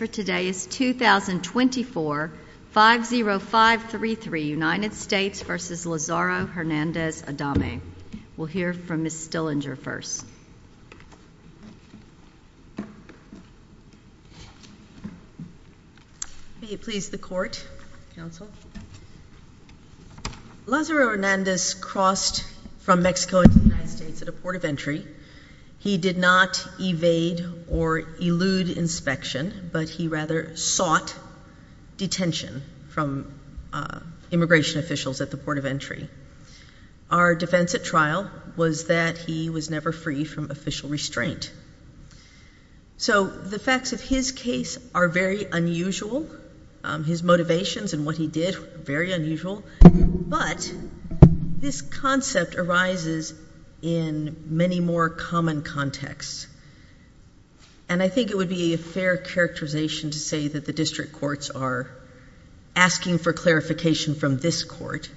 5-0-5-3-3, United States v. Lazaro Hernandez-Adame. We'll hear from Ms. Stillinger first. May it please the Court, Counsel. Lazaro Hernandez crossed from Mexico into the United States at a port of entry. He did not evade or elude inspection, but he rather sought detention from immigration officials at the port of entry. Our defense at trial was that he was never free from official restraint. So the facts of his case are very unusual. His motivations and what he did were very unusual. But this concept arises in many more common contexts. And I think it would be a fair characterization to say that the district courts are asking for clarification from this Court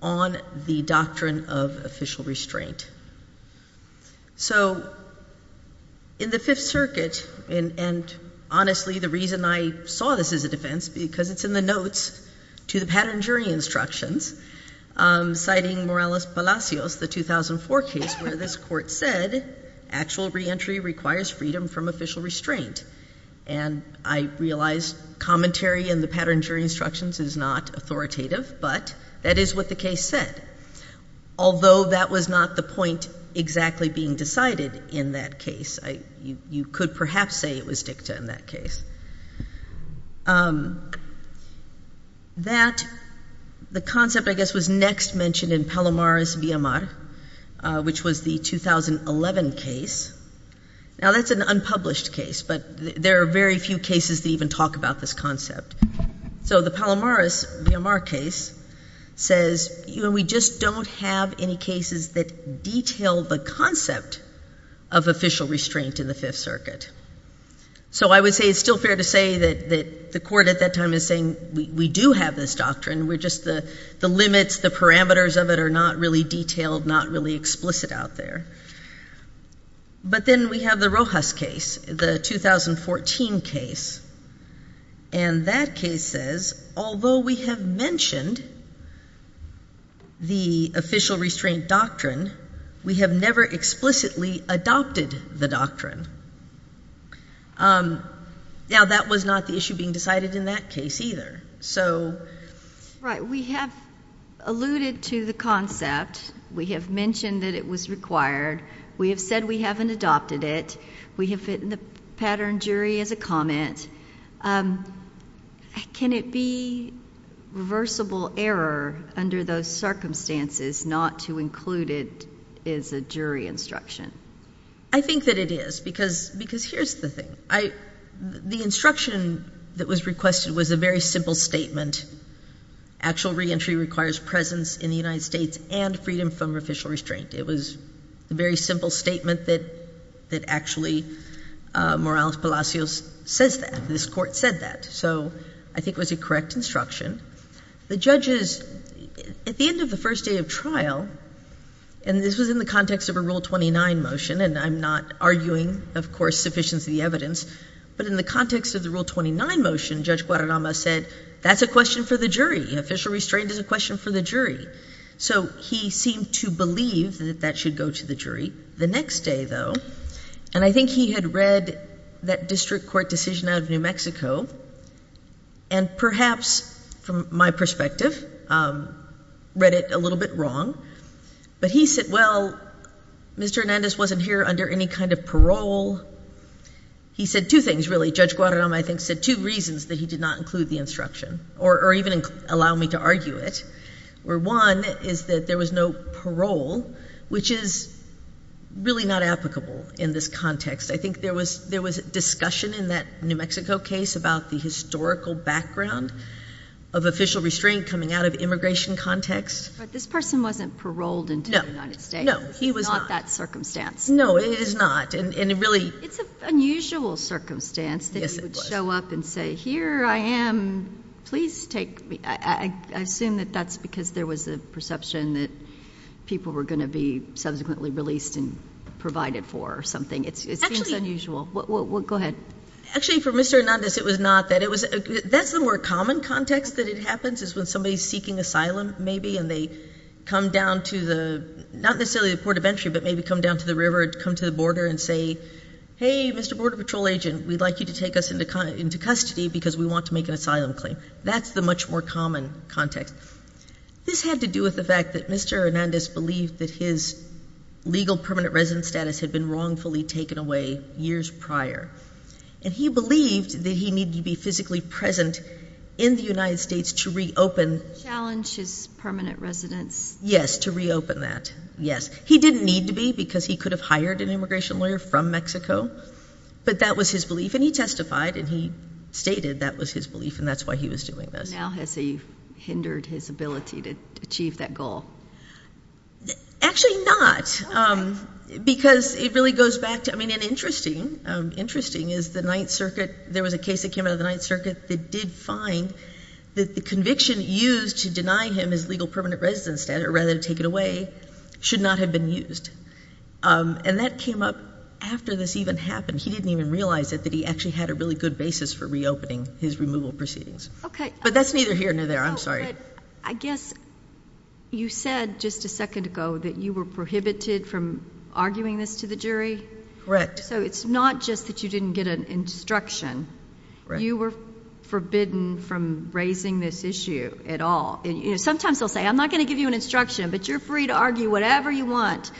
on the doctrine of official restraint. So in the Fifth Circuit, and honestly the reason I saw this as a defense, because it's in the notes to the Pattern Jury Instructions, citing Morales-Palacios, the 2004 case where this Court said actual reentry requires freedom from official restraint. And I realize commentary in the Pattern Jury Instructions is not authoritative, but that is what the case said. Although that was not the point exactly being decided in that case. You could perhaps say it was dicta in that case. That, the concept I guess was next mentioned in Palomar's Villamar, which was the 2011 case. Now that's an unpublished case, but there are very few cases that even talk about this concept. So the Palomar's Villamar case says we just don't have any cases that detail the concept of official restraint in the Fifth Circuit. So I would say it's still fair to say that the Court at that time is saying we do have this doctrine, we're just the limits, the parameters of it are not really detailed, not really explicit out there. But then we have the Rojas case, the 2014 case, and that case says although we have mentioned the official restraint doctrine, we have never explicitly adopted the doctrine. Now that was not the issue being decided in that case either. Right. We have alluded to the concept. We have mentioned that it was required. We have said we haven't adopted it. We have written the pattern jury as a comment. Can it be reversible error under those circumstances not to include it as a jury instruction? I think that it is, because here's the thing. The instruction that was requested was a very simple statement. Actual reentry requires presence in the United States and freedom from official restraint. It was a very simple statement that actually Morales Palacios says that, this Court said that. So I think it was a correct instruction. The judges, at the end of the first day of trial, and this was in the context of a Rule 29 motion, and I'm not arguing, of course, sufficiency of the evidence, but in the context of the Rule 29 motion, Judge Guadarrama said that's a question for the jury. Official restraint is a question for the jury. So he seemed to believe that that should go to the jury. The next day, though, and I think he had read that district court decision out of New Mexico, and perhaps from my perspective read it a little bit wrong, but he said, well, Mr. Hernandez wasn't here under any kind of parole. He said two things, really. Judge Guadarrama, I think, said two reasons that he did not include the instruction, or even allow me to argue it. One is that there was no parole, which is really not applicable in this context. I think there was discussion in that New Mexico case about the historical background of official restraint coming out of immigration context. But this person wasn't paroled until the United States. No, no, he was not. Not that circumstance. No, it is not, and really. It's an unusual circumstance that he would show up and say, here I am. Please take me. I assume that that's because there was a perception that people were going to be subsequently released and provided for or something. It seems unusual. Go ahead. Actually, for Mr. Hernandez, it was not. That's the more common context that it happens is when somebody is seeking asylum, maybe, and they come down to the, not necessarily the port of entry, but maybe come down to the river, come to the border and say, hey, Mr. Border Patrol agent, we'd like you to take us into custody because we want to make an asylum claim. That's the much more common context. This had to do with the fact that Mr. Hernandez believed that his legal permanent residence status had been wrongfully taken away years prior. And he believed that he needed to be physically present in the United States to reopen. Challenge his permanent residence. Yes, to reopen that. Yes. He didn't need to be because he could have hired an immigration lawyer from Mexico, but that was his belief. And he testified and he stated that was his belief and that's why he was doing this. Now has he hindered his ability to achieve that goal? Actually, not. Because it really goes back to, I mean, and interesting is the Ninth Circuit, there was a case that came out of the Ninth Circuit that did find that the conviction used to deny him his legal permanent residence rather than take it away should not have been used. And that came up after this even happened. He didn't even realize it, that he actually had a really good basis for reopening his removal proceedings. But that's neither here nor there. I'm sorry. I guess you said just a second ago that you were prohibited from arguing this to the jury. So it's not just that you didn't get an instruction. You were forbidden from raising this issue at all. Sometimes they'll say, I'm not going to give you an instruction, but you're free to argue whatever you want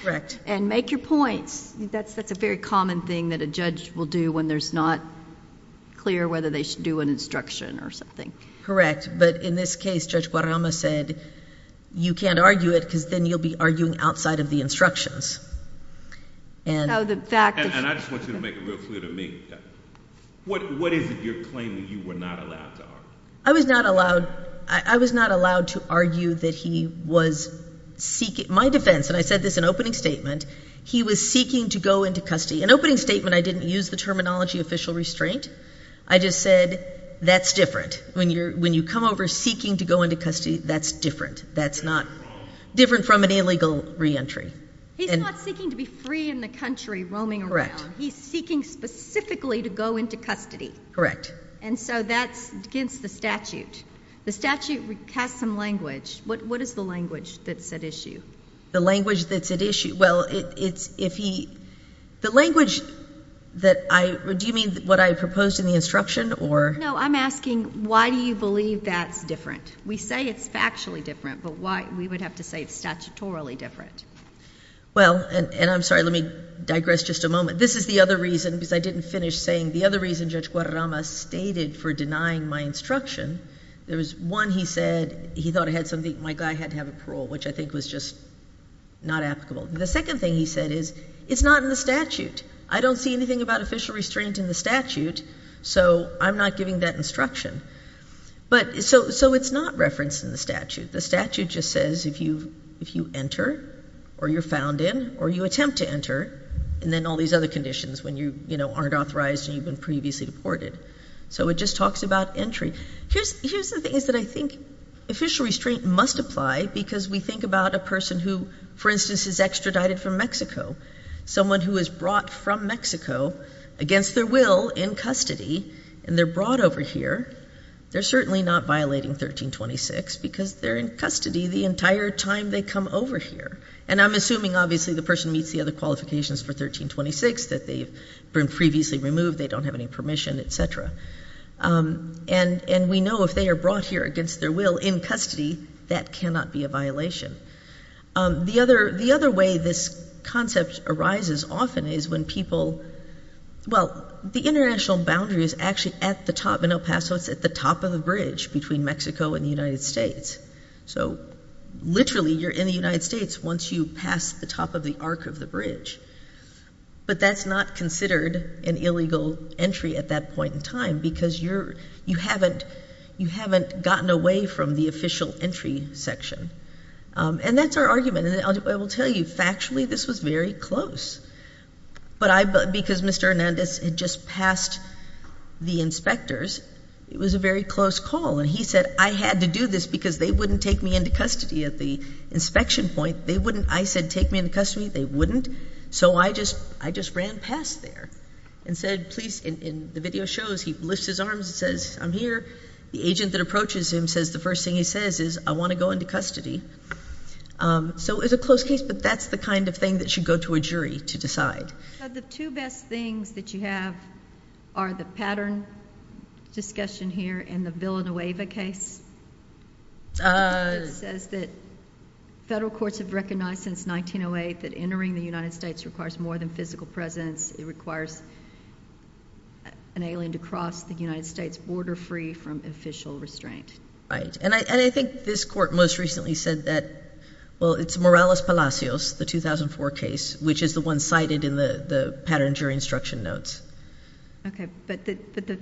and make your points. That's a very common thing that a judge will do when there's not clear whether they should do an instruction or something. Correct. But in this case, Judge Guadarrama said you can't argue it because then you'll be arguing outside of the instructions. And I just want you to make it real clear to me, what is it you're claiming you were not allowed to argue? I was not allowed to argue that he was seeking, my defense, and I said this in opening statement, he was seeking to go into custody. In opening statement, I didn't use the terminology official restraint. I just said that's different. When you come over seeking to go into custody, that's different. That's not different from an illegal reentry. He's not seeking to be free in the country roaming around. He's seeking specifically to go into custody. Correct. And so that's against the statute. The statute casts some language. What is the language that's at issue? The language that's at issue, well, it's if he, the language that I, do you mean what I proposed in the instruction or? No, I'm asking why do you believe that's different? We say it's factually different, but why, we would have to say it's statutorily different. Well, and I'm sorry, let me digress just a moment. This is the other reason, because I didn't finish saying the other reason Judge Guadarrama stated for denying my instruction. There was one he said, he thought I had something, my guy had to have a parole, which I think was just not applicable. The second thing he said is, it's not in the statute. I don't see anything about official restraint in the statute, so I'm not giving that instruction. But, so it's not referenced in the statute. The statute just says if you enter or you're found in or you attempt to enter, and then all these other conditions when you, you know, aren't authorized and you've been previously deported. So it just talks about entry. Here's the things that I think official restraint must apply because we think about a person who, for instance, is extradited from Mexico. Someone who is brought from Mexico against their will in custody and they're brought over here, they're certainly not violating 1326 because they're in custody the entire time they come over here. And I'm assuming, obviously, the person meets the other qualifications for 1326, that they've been previously removed, they don't have any permission, et cetera. And we know if they are brought here against their will in custody, that cannot be a violation. The other way this concept arises often is when people, well, the international boundary is actually at the top in El Paso. It's at the top of the bridge between Mexico and the United States. So, literally, you're in the United States once you pass the top of the arc of the bridge. But that's not considered an illegal entry at that point in time because you haven't gotten away from the official entry section. And that's our argument. And I will tell you, factually, this was very close. But because Mr. Hernandez had just passed the inspectors, it was a very close call. And he said, I had to do this because they wouldn't take me into custody at the inspection point. They wouldn't, I said, take me into custody. They wouldn't. So I just ran past there and said, please. And the video shows he lifts his arms and says, I'm here. The agent that approaches him says the first thing he says is, I want to go into custody. So it was a close case, but that's the kind of thing that should go to a jury to decide. The two best things that you have are the pattern discussion here and the Villanueva case. It says that federal courts have recognized since 1908 that entering the United States requires more than physical presence. It requires an alien to cross the United States border-free from official restraint. Right. And I think this court most recently said that, well, it's Morales Palacios, the 2004 case, which is the one cited in the pattern jury instruction notes. Okay. But the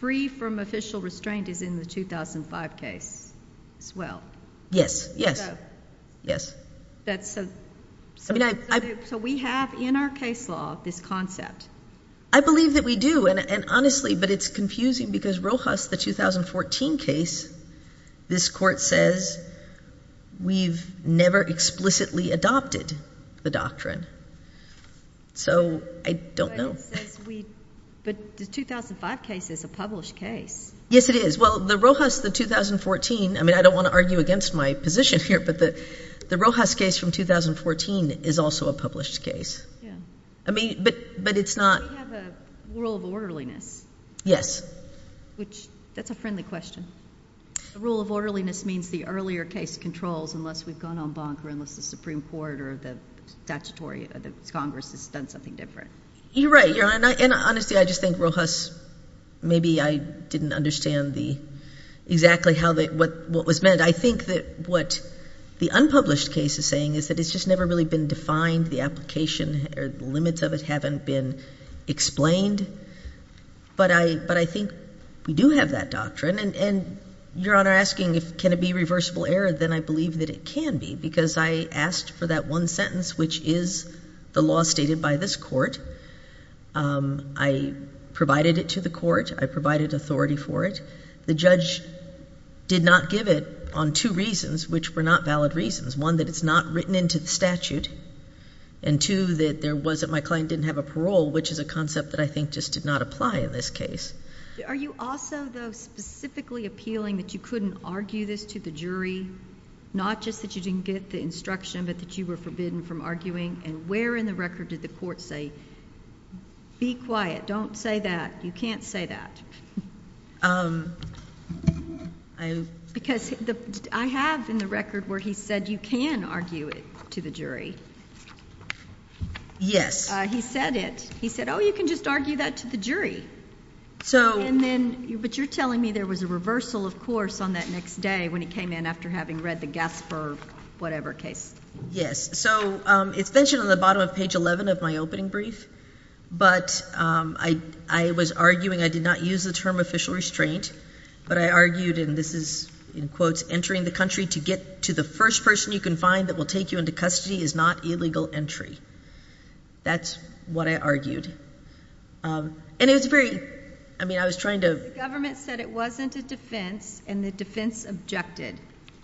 free from official restraint is in the 2005 case as well. Yes. Yes. Yes. So we have in our case law this concept. I believe that we do. And honestly, but it's confusing because Rojas, the 2014 case, this court says we've never explicitly adopted the doctrine. So I don't know. But the 2005 case is a published case. Yes, it is. Well, the Rojas, the 2014, I mean, I don't want to argue against my position here, but the Rojas case from 2014 is also a published case. Yeah. I mean, but it's not. We have a rule of orderliness. Yes. Which, that's a friendly question. A rule of orderliness means the earlier case controls unless we've gone on bonk or unless the Supreme Court or the statutory, the Congress has done something different. You're right. And honestly, I just think Rojas, maybe I didn't understand the, exactly how the, what was meant. And I think that what the unpublished case is saying is that it's just never really been defined. The application or the limits of it haven't been explained. But I think we do have that doctrine. And Your Honor asking can it be reversible error, then I believe that it can be because I asked for that one sentence, which is the law stated by this court. I provided it to the court. I provided authority for it. The judge did not give it on two reasons, which were not valid reasons. One, that it's not written into the statute. And two, that there was, that my client didn't have a parole, which is a concept that I think just did not apply in this case. Are you also, though, specifically appealing that you couldn't argue this to the jury, not just that you didn't get the instruction but that you were forbidden from arguing? And where in the record did the court say, be quiet, don't say that, you can't say that? Because I have in the record where he said you can argue it to the jury. He said it. He said, oh, you can just argue that to the jury. So. And then, but you're telling me there was a reversal, of course, on that next day when it came in after having read the Gasper whatever case. Yes. So it's mentioned on the bottom of page 11 of my opening brief. But I was arguing, I did not use the term official restraint, but I argued, and this is in quotes, entering the country to get to the first person you can find that will take you into custody is not illegal entry. That's what I argued. And it was very, I mean, I was trying to. The government said it wasn't a defense, and the defense objected.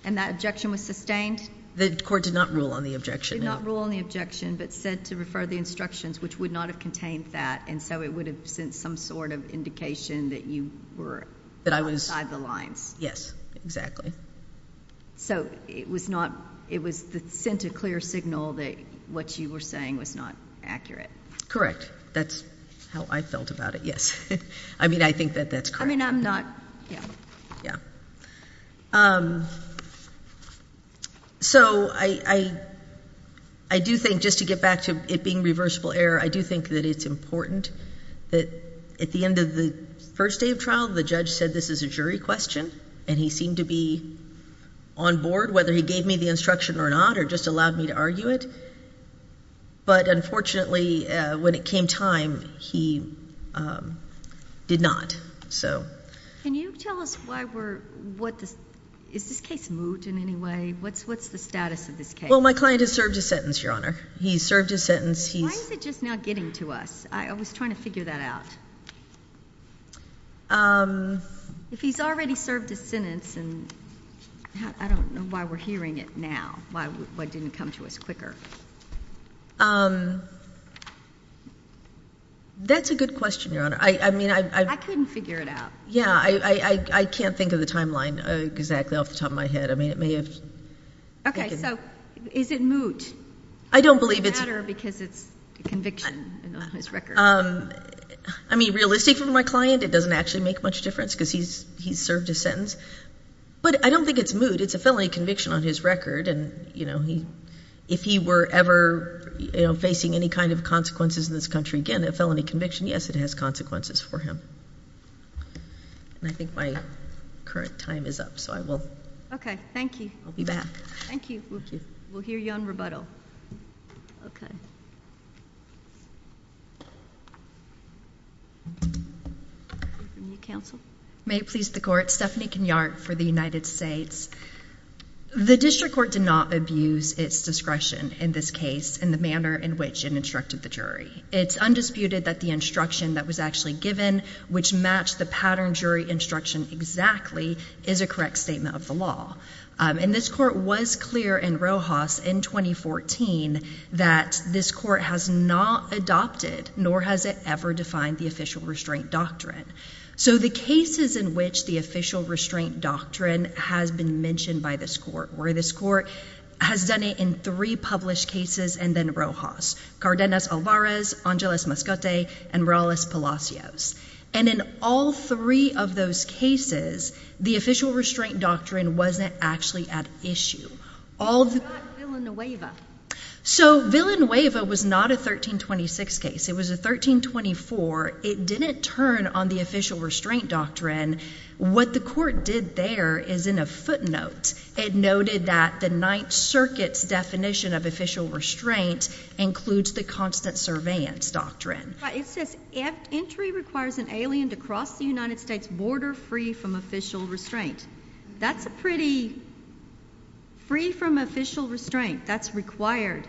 And that objection was sustained? The court did not rule on the objection. The court did not rule on the objection, but said to refer the instructions, which would not have contained that, and so it would have sent some sort of indication that you were outside the lines. Yes, exactly. So it was not, it was sent a clear signal that what you were saying was not accurate. Correct. That's how I felt about it, yes. I mean, I think that that's correct. I mean, I'm not, yeah. Yeah. So I do think, just to get back to it being reversible error, I do think that it's important that at the end of the first day of trial, the judge said this is a jury question, and he seemed to be on board, whether he gave me the instruction or not, or just allowed me to argue it. But unfortunately, when it came time, he did not. Can you tell us why we're, is this case moot in any way? What's the status of this case? Well, my client has served his sentence, Your Honor. He's served his sentence. Why is it just not getting to us? I was trying to figure that out. If he's already served his sentence, and I don't know why we're hearing it now. Why didn't it come to us quicker? That's a good question, Your Honor. I mean, I'm I couldn't figure it out. Yeah, I can't think of the timeline exactly off the top of my head. I mean, it may have Okay, so is it moot? I don't believe it's Does it matter because it's a conviction on his record? I mean, realistic for my client, it doesn't actually make much difference because he's served his sentence. But I don't think it's moot. It's a felony conviction on his record, and, you know, if he were ever facing any kind of consequences in this country, again, a felony conviction, yes, it has consequences for him. And I think my current time is up, so I will Okay, thank you. I'll be back. Thank you. Thank you. We'll hear you on rebuttal. Okay. Counsel? May it please the Court, Stephanie Kenyard for the United States. The district court did not abuse its discretion in this case in the manner in which it instructed the jury. It's undisputed that the instruction that was actually given, which matched the pattern jury instruction exactly, is a correct statement of the law. And this court was clear in Rojas in 2014 that this court has not adopted nor has it ever defined the official restraint doctrine. So the cases in which the official restraint doctrine has been mentioned by this court, where this court has done it in three published cases and then Rojas, Cardenas-Alvarez, Angeles-Mascote, and Morales-Palacios. And in all three of those cases, the official restraint doctrine wasn't actually at issue. So Villanueva was not a 1326 case. It was a 1324. It didn't turn on the official restraint doctrine. What the court did there is in a footnote. It noted that the Ninth Circuit's definition of official restraint includes the constant surveillance doctrine. It says entry requires an alien to cross the United States border free from official restraint. That's a pretty free from official restraint. That's required.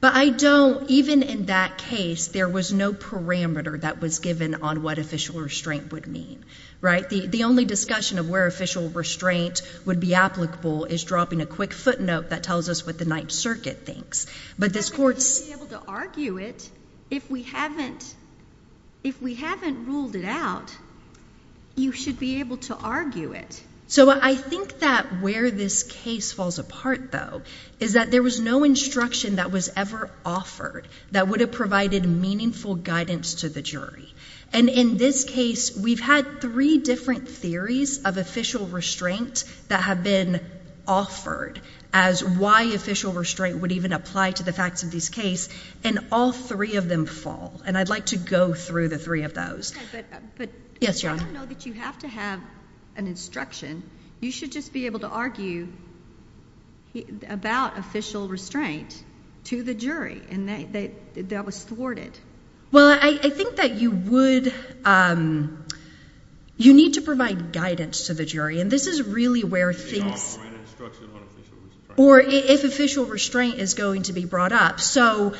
But I don't, even in that case, there was no parameter that was given on what official restraint would mean. Right? The only discussion of where official restraint would be applicable is dropping a quick footnote that tells us what the Ninth Circuit thinks. But this court's- If we haven't ruled it out, you should be able to argue it. So I think that where this case falls apart, though, is that there was no instruction that was ever offered that would have provided meaningful guidance to the jury. And in this case, we've had three different theories of official restraint that have been offered as why official restraint would even apply to the facts of this case. And all three of them fall. And I'd like to go through the three of those. I don't know that you have to have an instruction. You should just be able to argue about official restraint to the jury. And that was thwarted. Well, I think that you would – you need to provide guidance to the jury. And this is really where things- They offer an instruction on official restraint. Or if official restraint is going to be brought up. I'm just asking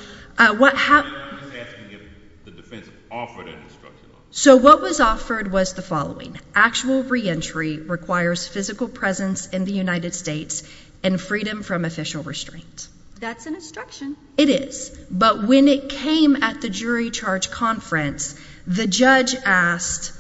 if the defense offered an instruction on it. So what was offered was the following. Actual reentry requires physical presence in the United States and freedom from official restraint. That's an instruction. It is. But when it came at the jury charge conference, the judge asked,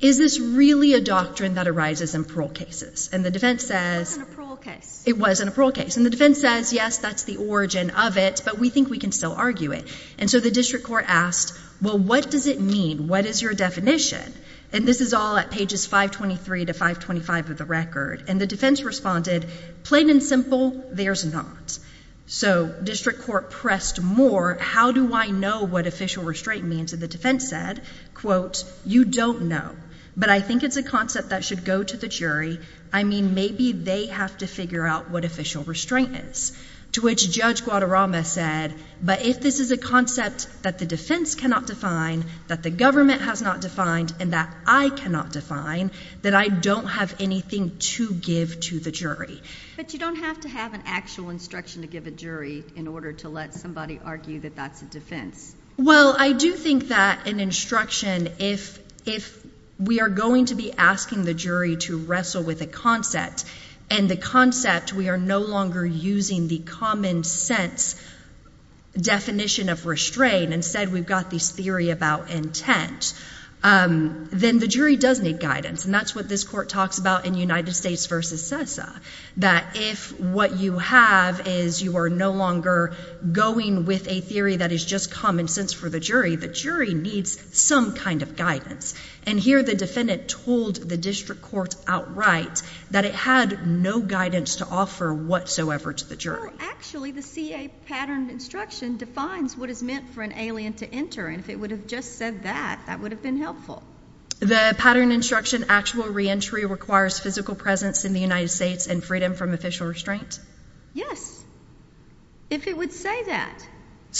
is this really a doctrine that arises in parole cases? And the defense says- It wasn't a parole case. It wasn't a parole case. And the defense says, yes, that's the origin of it. But we think we can still argue it. And so the district court asked, well, what does it mean? What is your definition? And this is all at pages 523 to 525 of the record. And the defense responded, plain and simple, there's not. So district court pressed more, how do I know what official restraint means? And the defense said, quote, you don't know. But I think it's a concept that should go to the jury. I mean, maybe they have to figure out what official restraint is, to which Judge Guadarrama said, but if this is a concept that the defense cannot define, that the government has not defined, and that I cannot define, then I don't have anything to give to the jury. But you don't have to have an actual instruction to give a jury in order to let somebody argue that that's a defense. Well, I do think that an instruction, if we are going to be asking the jury to wrestle with a concept, and the concept we are no longer using the common sense definition of restraint, instead we've got this theory about intent, then the jury does need guidance. And that's what this court talks about in United States v. CESA, that if what you have is you are no longer going with a theory that is just common sense for the jury, the jury needs some kind of guidance. And here the defendant told the district court outright that it had no guidance to offer whatsoever to the jury. Well, actually the CA pattern instruction defines what is meant for an alien to enter, and if it would have just said that, that would have been helpful. The pattern instruction actual reentry requires physical presence in the United States and freedom from official restraint? Yes, if it would say that.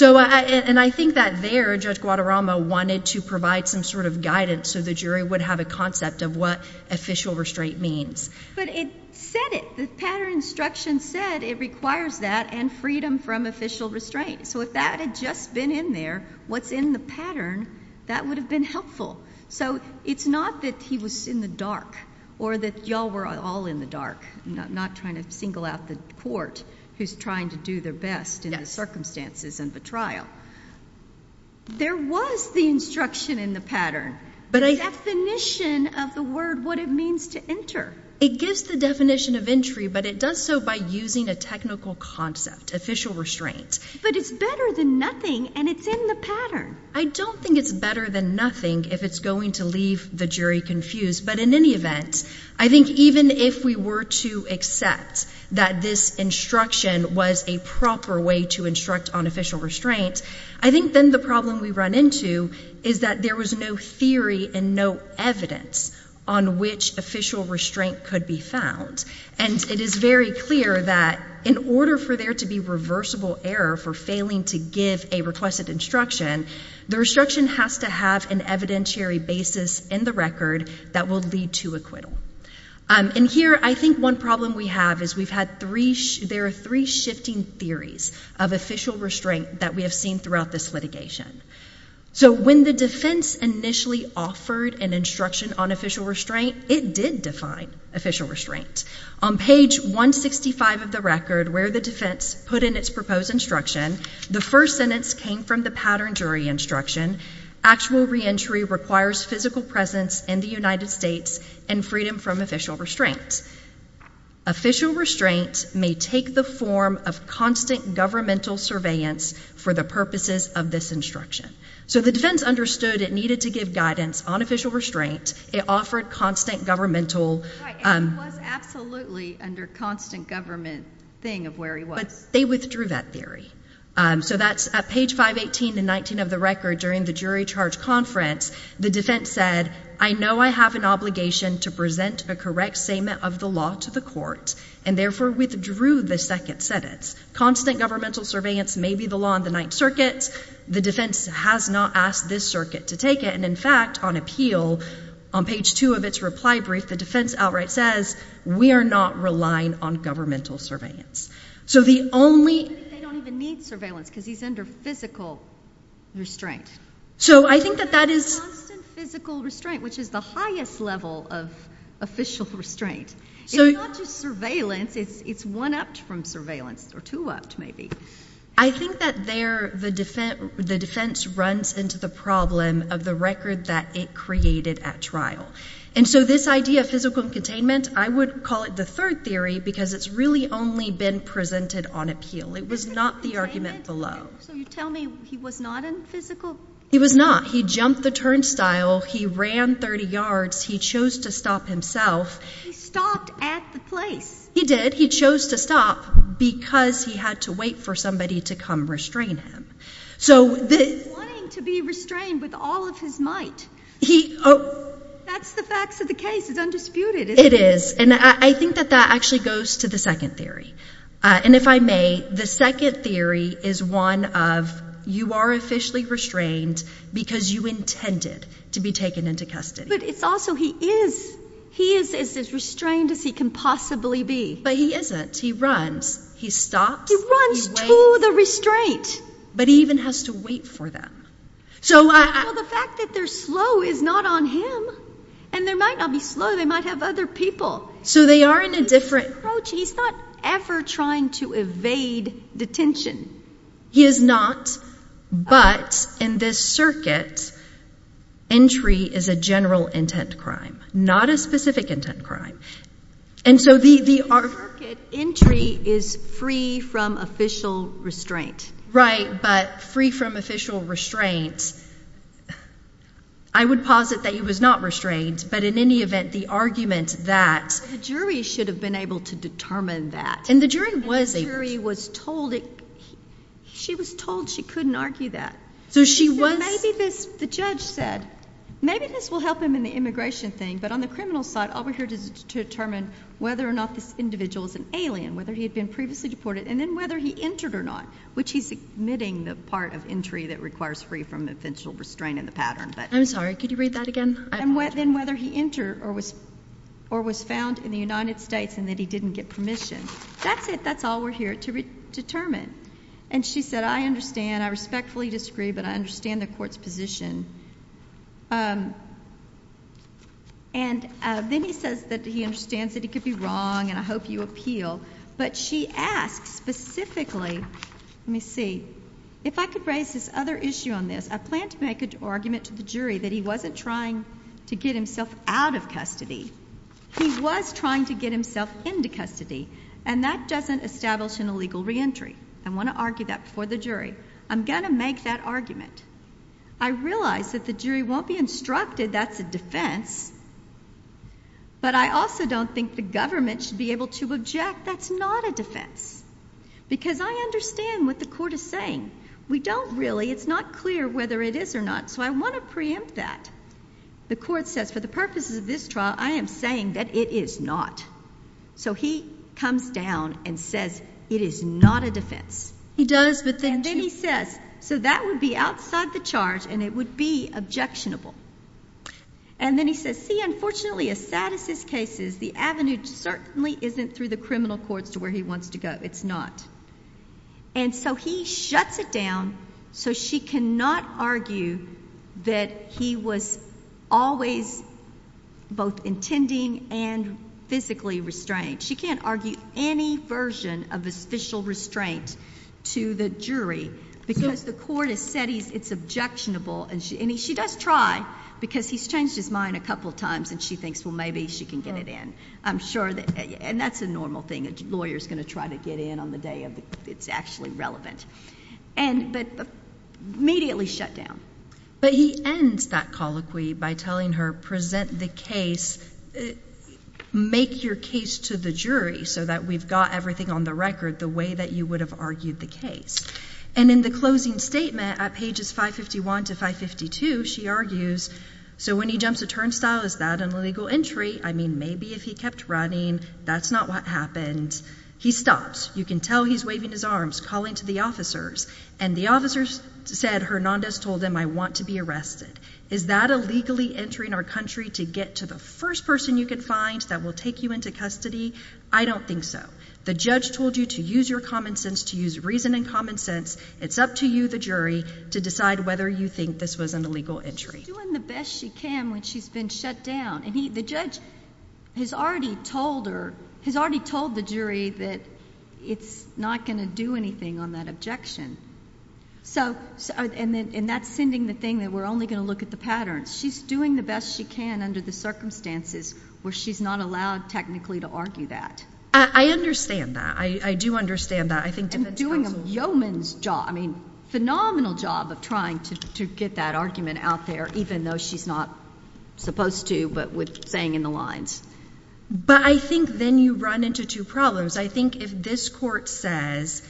And I think that there Judge Guadarrama wanted to provide some sort of guidance so the jury would have a concept of what official restraint means. But it said it. The pattern instruction said it requires that and freedom from official restraint. Right, so if that had just been in there, what's in the pattern, that would have been helpful. So it's not that he was in the dark or that you all were all in the dark, not trying to single out the court who's trying to do their best in the circumstances of the trial. There was the instruction in the pattern, the definition of the word, what it means to enter. It gives the definition of entry, but it does so by using a technical concept, official restraint. But it's better than nothing, and it's in the pattern. I don't think it's better than nothing if it's going to leave the jury confused, but in any event, I think even if we were to accept that this instruction was a proper way to instruct on official restraint, I think then the problem we run into is that there was no theory and no evidence on which official restraint could be found. And it is very clear that in order for there to be reversible error for failing to give a requested instruction, the restriction has to have an evidentiary basis in the record that will lead to acquittal. And here I think one problem we have is we've had three, there are three shifting theories of official restraint that we have seen throughout this litigation. So when the defense initially offered an instruction on official restraint, it did define official restraint. On page 165 of the record where the defense put in its proposed instruction, the first sentence came from the pattern jury instruction, actual reentry requires physical presence in the United States and freedom from official restraint. Official restraint may take the form of constant governmental surveillance for the purposes of this instruction. So the defense understood it needed to give guidance on official restraint. It offered constant governmental. It was absolutely under constant government thing of where he was. But they withdrew that theory. So that's at page 518 and 19 of the record during the jury charge conference, the defense said, I know I have an obligation to present a correct statement of the law to the court and therefore withdrew the second sentence. Constant governmental surveillance may be the law in the Ninth Circuit. The defense has not asked this circuit to take it. And, in fact, on appeal, on page 2 of its reply brief, the defense outright says, we are not relying on governmental surveillance. So the only— They don't even need surveillance because he's under physical restraint. So I think that that is— He was in physical restraint, which is the highest level of official restraint. It's not just surveillance. It's one-upped from surveillance or two-upped maybe. I think that there the defense runs into the problem of the record that it created at trial. And so this idea of physical containment, I would call it the third theory because it's really only been presented on appeal. It was not the argument below. So you tell me he was not in physical— He was not. He jumped the turnstile. He ran 30 yards. He chose to stop himself. He stopped at the place. He did. He chose to stop because he had to wait for somebody to come restrain him. He was wanting to be restrained with all of his might. That's the facts of the case. It's undisputed, isn't it? It is. And I think that that actually goes to the second theory. And if I may, the second theory is one of you are officially restrained because you intended to be taken into custody. But it's also he is. He is as restrained as he can possibly be. But he isn't. He runs. He stops. He runs to the restraint. But he even has to wait for them. Well, the fact that they're slow is not on him. And they might not be slow. They might have other people. So they are in a different— He's not ever trying to evade detention. He is not. But in this circuit, entry is a general intent crime, not a specific intent crime. And so the— In this circuit, entry is free from official restraint. Right, but free from official restraint. I would posit that he was not restrained. But in any event, the argument that— The jury should have been able to determine that. And the jury was able to. And the jury was told it—she was told she couldn't argue that. So she was— Maybe this—the judge said, maybe this will help him in the immigration thing, but on the criminal side, all we're here to determine whether or not this individual is an alien, whether he had been previously deported, and then whether he entered or not, which he's admitting the part of entry that requires free from official restraint in the pattern. I'm sorry. Could you read that again? And then whether he entered or was found in the United States and that he didn't get permission. That's it. That's all we're here to determine. And she said, I understand. I respectfully disagree, but I understand the court's position. And then he says that he understands that he could be wrong, and I hope you appeal. But she asks specifically—let me see. If I could raise this other issue on this. I plan to make an argument to the jury that he wasn't trying to get himself out of custody. He was trying to get himself into custody, and that doesn't establish an illegal reentry. I want to argue that before the jury. I'm going to make that argument. I realize that the jury won't be instructed that's a defense, but I also don't think the government should be able to object that's not a defense, because I understand what the court is saying. We don't really. It's not clear whether it is or not, so I want to preempt that. The court says for the purposes of this trial, I am saying that it is not. So he comes down and says it is not a defense. He does, but then to— And then he says, so that would be outside the charge, and it would be objectionable. And then he says, see, unfortunately, as sad as this case is, the avenue certainly isn't through the criminal courts to where he wants to go. It's not. And so he shuts it down, so she cannot argue that he was always both intending and physically restrained. She can't argue any version of official restraint to the jury, because the court has said it's objectionable. And she does try, because he's changed his mind a couple times, and she thinks, well, maybe she can get it in. And that's a normal thing. A lawyer is going to try to get in on the day it's actually relevant. But immediately shut down. But he ends that colloquy by telling her, present the case, make your case to the jury so that we've got everything on the record the way that you would have argued the case. And in the closing statement at pages 551 to 552, she argues, so when he jumps a turnstile, is that an illegal entry? I mean, maybe if he kept running. That's not what happened. He stops. You can tell he's waving his arms, calling to the officers. And the officers said, Hernandez told them, I want to be arrested. Is that illegally entering our country to get to the first person you can find that will take you into custody? I don't think so. The judge told you to use your common sense, to use reason and common sense. It's up to you, the jury, to decide whether you think this was an illegal entry. She's doing the best she can when she's been shut down. And the judge has already told the jury that it's not going to do anything on that objection. And that's sending the thing that we're only going to look at the patterns. She's doing the best she can under the circumstances where she's not allowed technically to argue that. I understand that. I do understand that. And doing a yeoman's job, I mean, phenomenal job of trying to get that argument out there, even though she's not supposed to, but with saying in the lines. But I think then you run into two problems. I think if this court says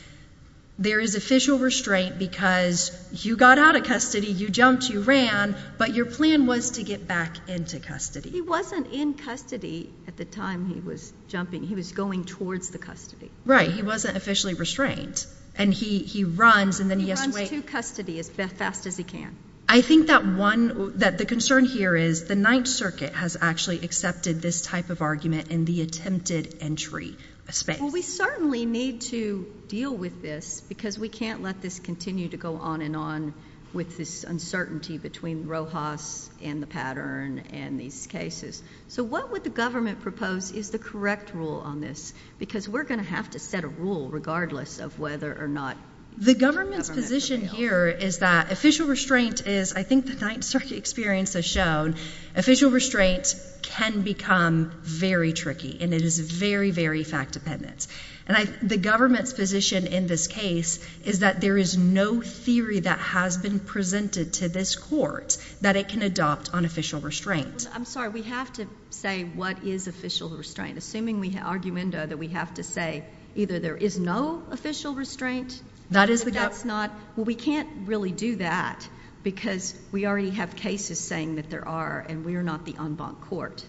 there is official restraint because you got out of custody, you jumped, you ran, but your plan was to get back into custody. He wasn't in custody at the time he was jumping. He was going towards the custody. Right. He wasn't officially restrained. And he runs, and then he has to wait. He runs to custody as fast as he can. I think that one, that the concern here is the Ninth Circuit has actually accepted this type of argument in the attempted entry space. Well, we certainly need to deal with this because we can't let this continue to go on and on with this uncertainty between Rojas and the pattern and these cases. So what would the government propose is the correct rule on this? Because we're going to have to set a rule regardless of whether or not. The government's position here is that official restraint is, I think the Ninth Circuit experience has shown, official restraint can become very tricky, and it is very, very fact-dependent. And the government's position in this case is that there is no theory that has been presented to this court that it can adopt on official restraint. I'm sorry. We have to say what is official restraint. Assuming we have argument that we have to say either there is no official restraint. That is the government. Well, we can't really do that because we already have cases saying that there are, and we are not the en banc court.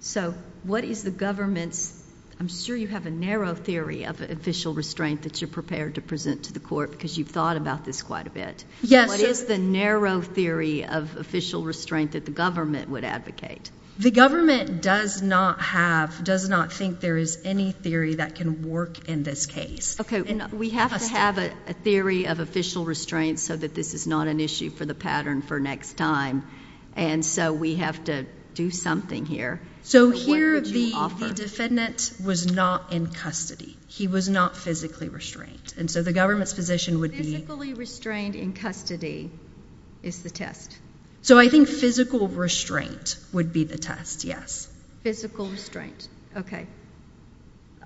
So what is the government's, I'm sure you have a narrow theory of official restraint that you're prepared to present to the court because you've thought about this quite a bit. Yes. What is the narrow theory of official restraint that the government would advocate? The government does not have, does not think there is any theory that can work in this case. Okay. We have to have a theory of official restraint so that this is not an issue for the pattern for next time. And so we have to do something here. So here the defendant was not in custody. He was not physically restrained. And so the government's position would be. Physically restrained in custody is the test. So I think physical restraint would be the test, yes. Physical restraint, okay.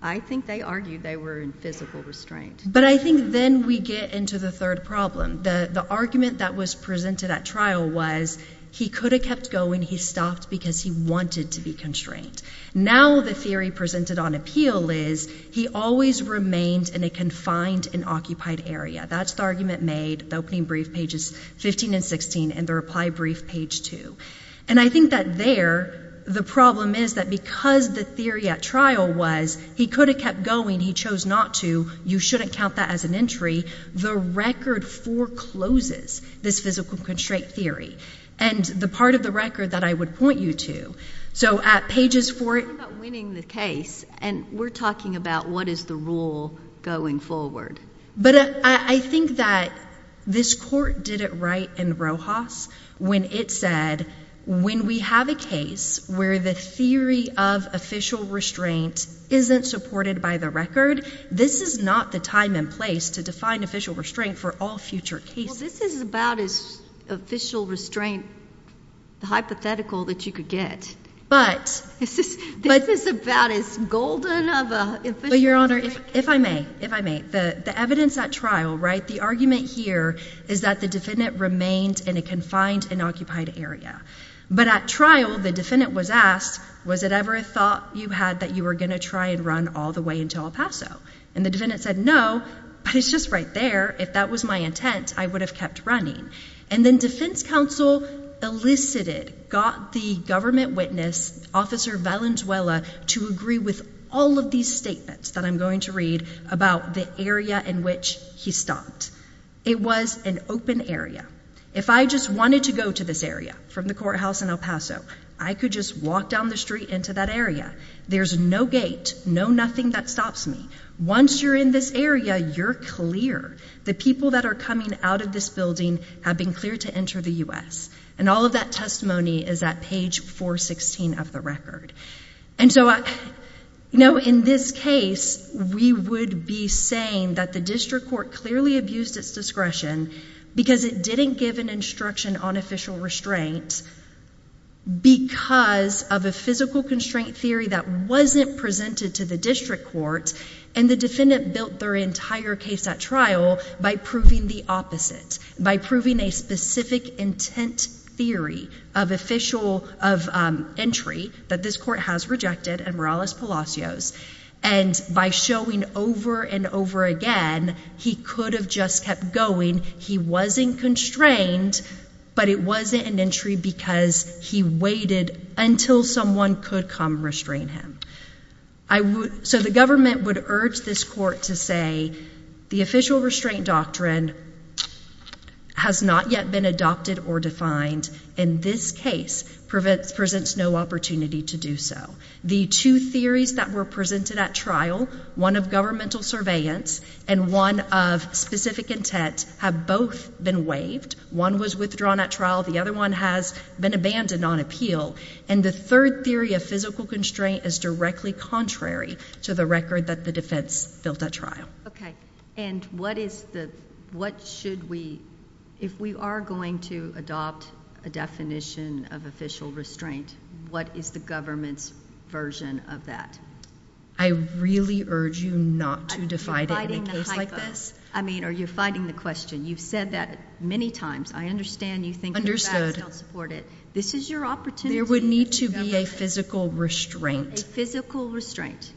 I think they argued they were in physical restraint. But I think then we get into the third problem. The argument that was presented at trial was he could have kept going. He stopped because he wanted to be constrained. Now the theory presented on appeal is he always remained in a confined and occupied area. That's the argument made, the opening brief pages 15 and 16 and the reply brief page 2. And I think that there the problem is that because the theory at trial was he could have kept going, he chose not to. You shouldn't count that as an entry. The record forecloses this physical restraint theory. And the part of the record that I would point you to. So at pages 4. What about winning the case? And we're talking about what is the rule going forward. But I think that this court did it right in Rojas when it said when we have a case where the theory of official restraint isn't supported by the record, this is not the time and place to define official restraint for all future cases. Well, this is about as official restraint hypothetical that you could get. But. This is about as golden of a. Your Honor, if I may, if I may, the evidence at trial, right, the argument here is that the defendant remained in a confined and occupied area. But at trial, the defendant was asked, was it ever a thought you had that you were going to try and run all the way into El Paso? And the defendant said, no, but it's just right there. If that was my intent, I would have kept running. And then defense counsel elicited, got the government witness, Officer Valenzuela, to agree with all of these statements that I'm going to read about the area in which he stopped. It was an open area. If I just wanted to go to this area from the courthouse in El Paso, I could just walk down the street into that area. There's no gate, no nothing that stops me. Once you're in this area, you're clear. The people that are coming out of this building have been cleared to enter the U.S. And all of that testimony is at page 416 of the record. And so, you know, in this case, we would be saying that the district court clearly abused its discretion because it didn't give an instruction on official restraint because of a physical constraint theory that wasn't presented to the district court. And the defendant built their entire case at trial by proving the opposite, by proving a specific intent theory of entry that this court has rejected and Morales-Palacios. And by showing over and over again, he could have just kept going. He wasn't constrained, but it wasn't an entry because he waited until someone could come restrain him. So the government would urge this court to say the official restraint doctrine has not yet been adopted or defined. In this case, presents no opportunity to do so. The two theories that were presented at trial, one of governmental surveillance and one of specific intent, have both been waived. One was withdrawn at trial. The other one has been abandoned on appeal. And the third theory of physical constraint is directly contrary to the record that the defense built at trial. Okay. And what is the, what should we, if we are going to adopt a definition of official restraint, what is the government's version of that? I really urge you not to divide it in a case like this. I mean, are you fighting the question? You've said that many times. I understand you think the facts don't support it. Understood. This is your opportunity. There would need to be a physical restraint. A physical restraint.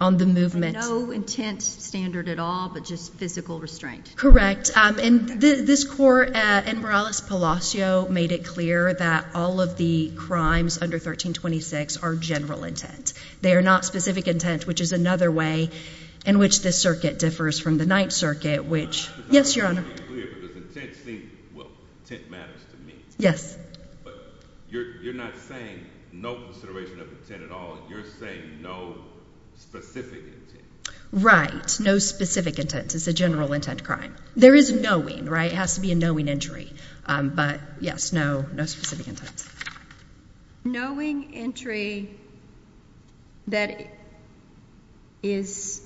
On the movement. No intent standard at all, but just physical restraint. Correct. And this court in Morales-Palacio made it clear that all of the crimes under 1326 are general intent. They are not specific intent, which is another way in which this circuit differs from the Ninth Circuit, which, yes, Your Honor. Well, intent matters to me. Yes. But you're not saying no consideration of intent at all. You're saying no specific intent. Right. No specific intent. It's a general intent crime. There is knowing, right? It has to be a knowing entry. But, yes, no specific intent. Knowing entry that is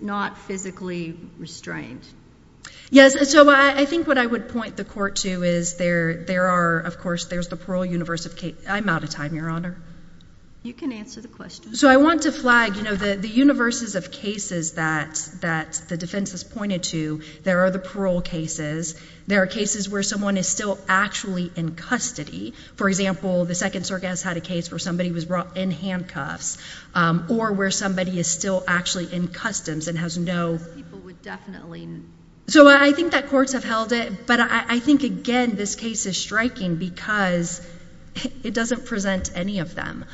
not physically restrained. Yes, so I think what I would point the court to is there are, of course, there's the parole universe of cases. I'm out of time, Your Honor. You can answer the question. So I want to flag, you know, the universes of cases that the defense has pointed to. There are the parole cases. There are cases where someone is still actually in custody. For example, the Second Circuit has had a case where somebody was brought in handcuffs or where somebody is still actually in customs and has no. People would definitely. So I think that courts have held it. But I think, again, this case is striking because it doesn't present any of them.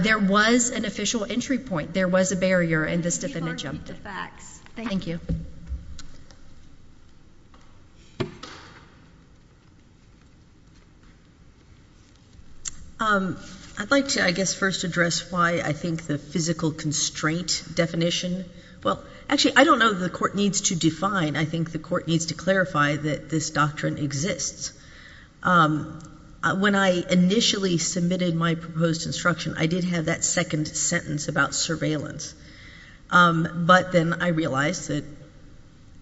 There was an official entry point. There was a barrier, and this defendant jumped it. Please repeat the facts. Thank you. Thank you. I'd like to, I guess, first address why I think the physical constraint definition. Well, actually, I don't know that the court needs to define. I think the court needs to clarify that this doctrine exists. When I initially submitted my proposed instruction, I did have that second sentence about surveillance. But then I realized that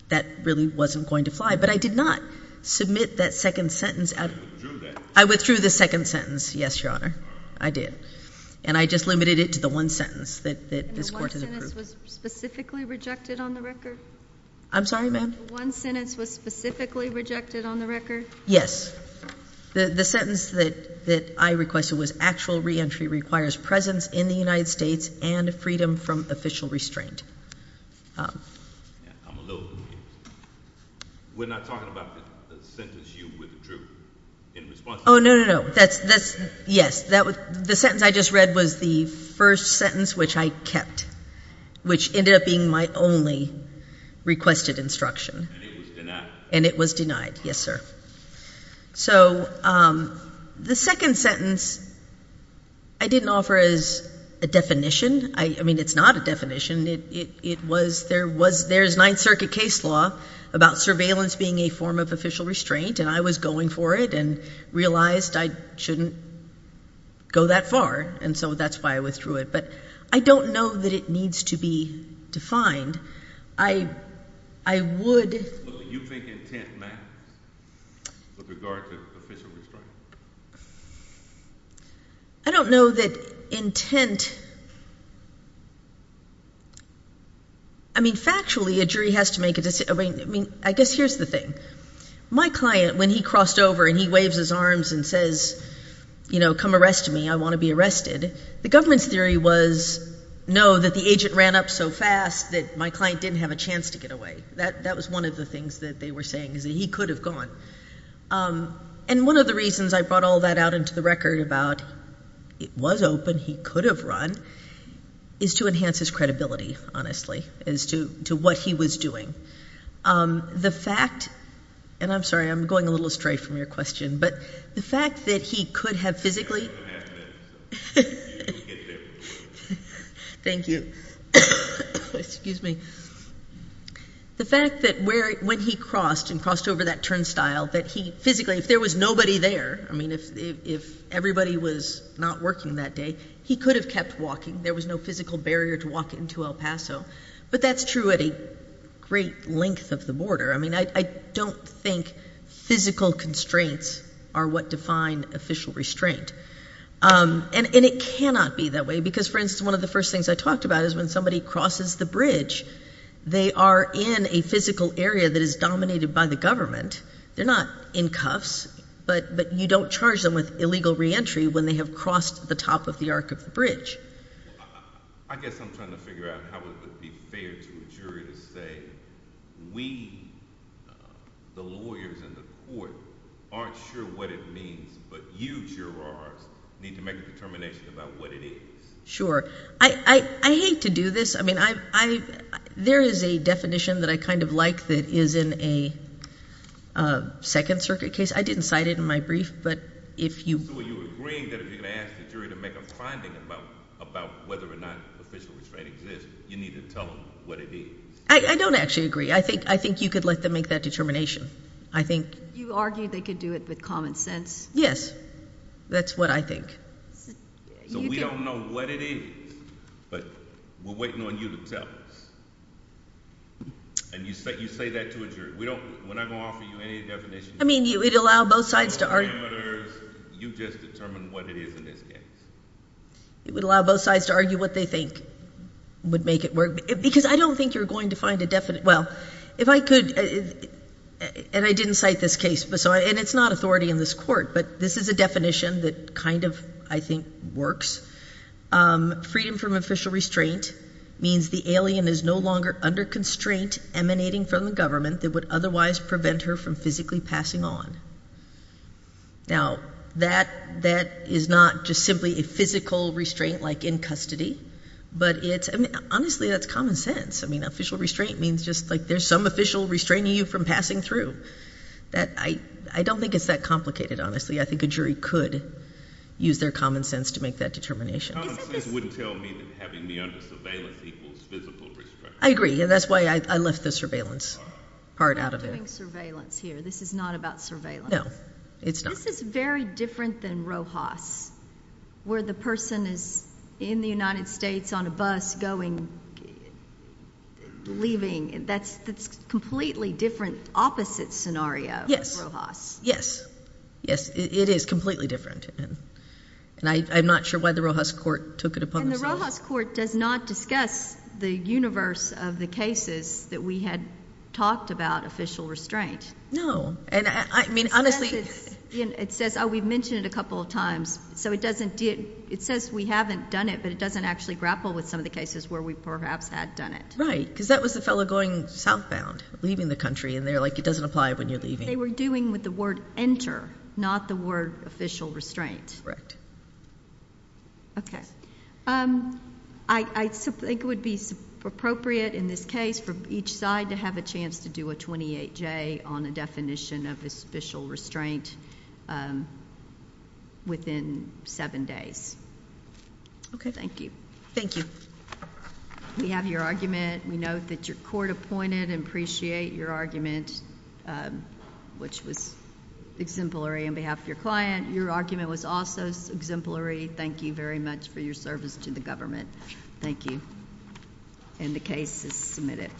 that really wasn't going to fly. But I did not submit that second sentence. You withdrew that. I withdrew the second sentence, yes, Your Honor. I did. And I just limited it to the one sentence that this court has approved. And the one sentence was specifically rejected on the record? I'm sorry, ma'am? The one sentence was specifically rejected on the record? Yes. The sentence that I requested was actual reentry requires presence in the United States and freedom from official restraint. I'm a little confused. We're not talking about the sentence you withdrew in response? Oh, no, no, no. Yes. The sentence I just read was the first sentence which I kept, which ended up being my only requested instruction. And it was denied? And it was denied, yes, sir. So the second sentence I didn't offer as a definition. I mean, it's not a definition. It was there's Ninth Circuit case law about surveillance being a form of official restraint. And I was going for it and realized I shouldn't go that far. And so that's why I withdrew it. But I don't know that it needs to be defined. I would. Well, do you think intent matters with regard to official restraint? I don't know that intent. I mean, factually, a jury has to make a decision. I mean, I guess here's the thing. My client, when he crossed over and he waves his arms and says, you know, come arrest me, I want to be arrested, the government's theory was, no, that the agent ran up so fast that my client didn't have a chance to get away. That was one of the things that they were saying is that he could have gone. And one of the reasons I brought all that out into the record about it was open, he could have run, is to enhance his credibility, honestly, as to what he was doing. The fact, and I'm sorry, I'm going a little astray from your question, but the fact that he could have physically. Thank you. Excuse me. The fact that when he crossed and crossed over that turnstile, that he physically, if there was nobody there, I mean, if everybody was not working that day, he could have kept walking. There was no physical barrier to walk into El Paso. But that's true at a great length of the border. I mean, I don't think physical constraints are what define official restraint. And it cannot be that way because, for instance, one of the first things I talked about is when somebody crosses the bridge, they are in a physical area that is dominated by the government. They're not in cuffs, but you don't charge them with illegal reentry when they have crossed the top of the arc of the bridge. I guess I'm trying to figure out how it would be fair to a jury to say we, the lawyers in the court, aren't sure what it means, but you, jurors, need to make a determination about what it is. Sure. I hate to do this. I mean, there is a definition that I kind of like that is in a Second Circuit case. I didn't cite it in my brief, but if you— So you're agreeing that if you're going to ask the jury to make a finding about whether or not official restraint exists, you need to tell them what it is. I don't actually agree. I think you could let them make that determination. I think— You argue they could do it with common sense. Yes. That's what I think. So we don't know what it is, but we're waiting on you to tell us. And you say that to a jury. When I'm going to offer you any definition— I mean, it would allow both sides to argue. You just determine what it is in this case. It would allow both sides to argue what they think would make it work. Because I don't think you're going to find a definite—well, if I could—and I didn't cite this case, and it's not authority in this court, but this is a definition that kind of, I think, works. Freedom from official restraint means the alien is no longer under constraint emanating from the government that would otherwise prevent her from physically passing on. Now, that is not just simply a physical restraint like in custody, but it's—I mean, honestly, that's common sense. I mean, official restraint means just like there's some official restraining you from passing through. I don't think it's that complicated, honestly. I think a jury could use their common sense to make that determination. Common sense wouldn't tell me that having me under surveillance equals physical restraint. I agree. That's why I left the surveillance part out of it. We're not doing surveillance here. This is not about surveillance. No, it's not. This is very different than Rojas, where the person is in the United States on a bus going—leaving. That's a completely different, opposite scenario. Yes. Rojas. Yes. Yes, it is completely different, and I'm not sure why the Rojas court took it upon themselves. The Rojas court does not discuss the universe of the cases that we had talked about official restraint. No. I mean, honestly— It says—oh, we've mentioned it a couple of times. So it doesn't—it says we haven't done it, but it doesn't actually grapple with some of the cases where we perhaps had done it. Right, because that was the fellow going southbound, leaving the country, and they're like, it doesn't apply when you're leaving. They were doing with the word enter, not the word official restraint. Correct. Okay. I think it would be appropriate in this case for each side to have a chance to do a 28-J on a definition of official restraint within seven days. Okay. Thank you. Thank you. We have your argument. We note that your court appointed and appreciate your argument, which was exemplary on behalf of your client. Your argument was also exemplary. Thank you very much for your service to the government. Thank you. And the case is submitted.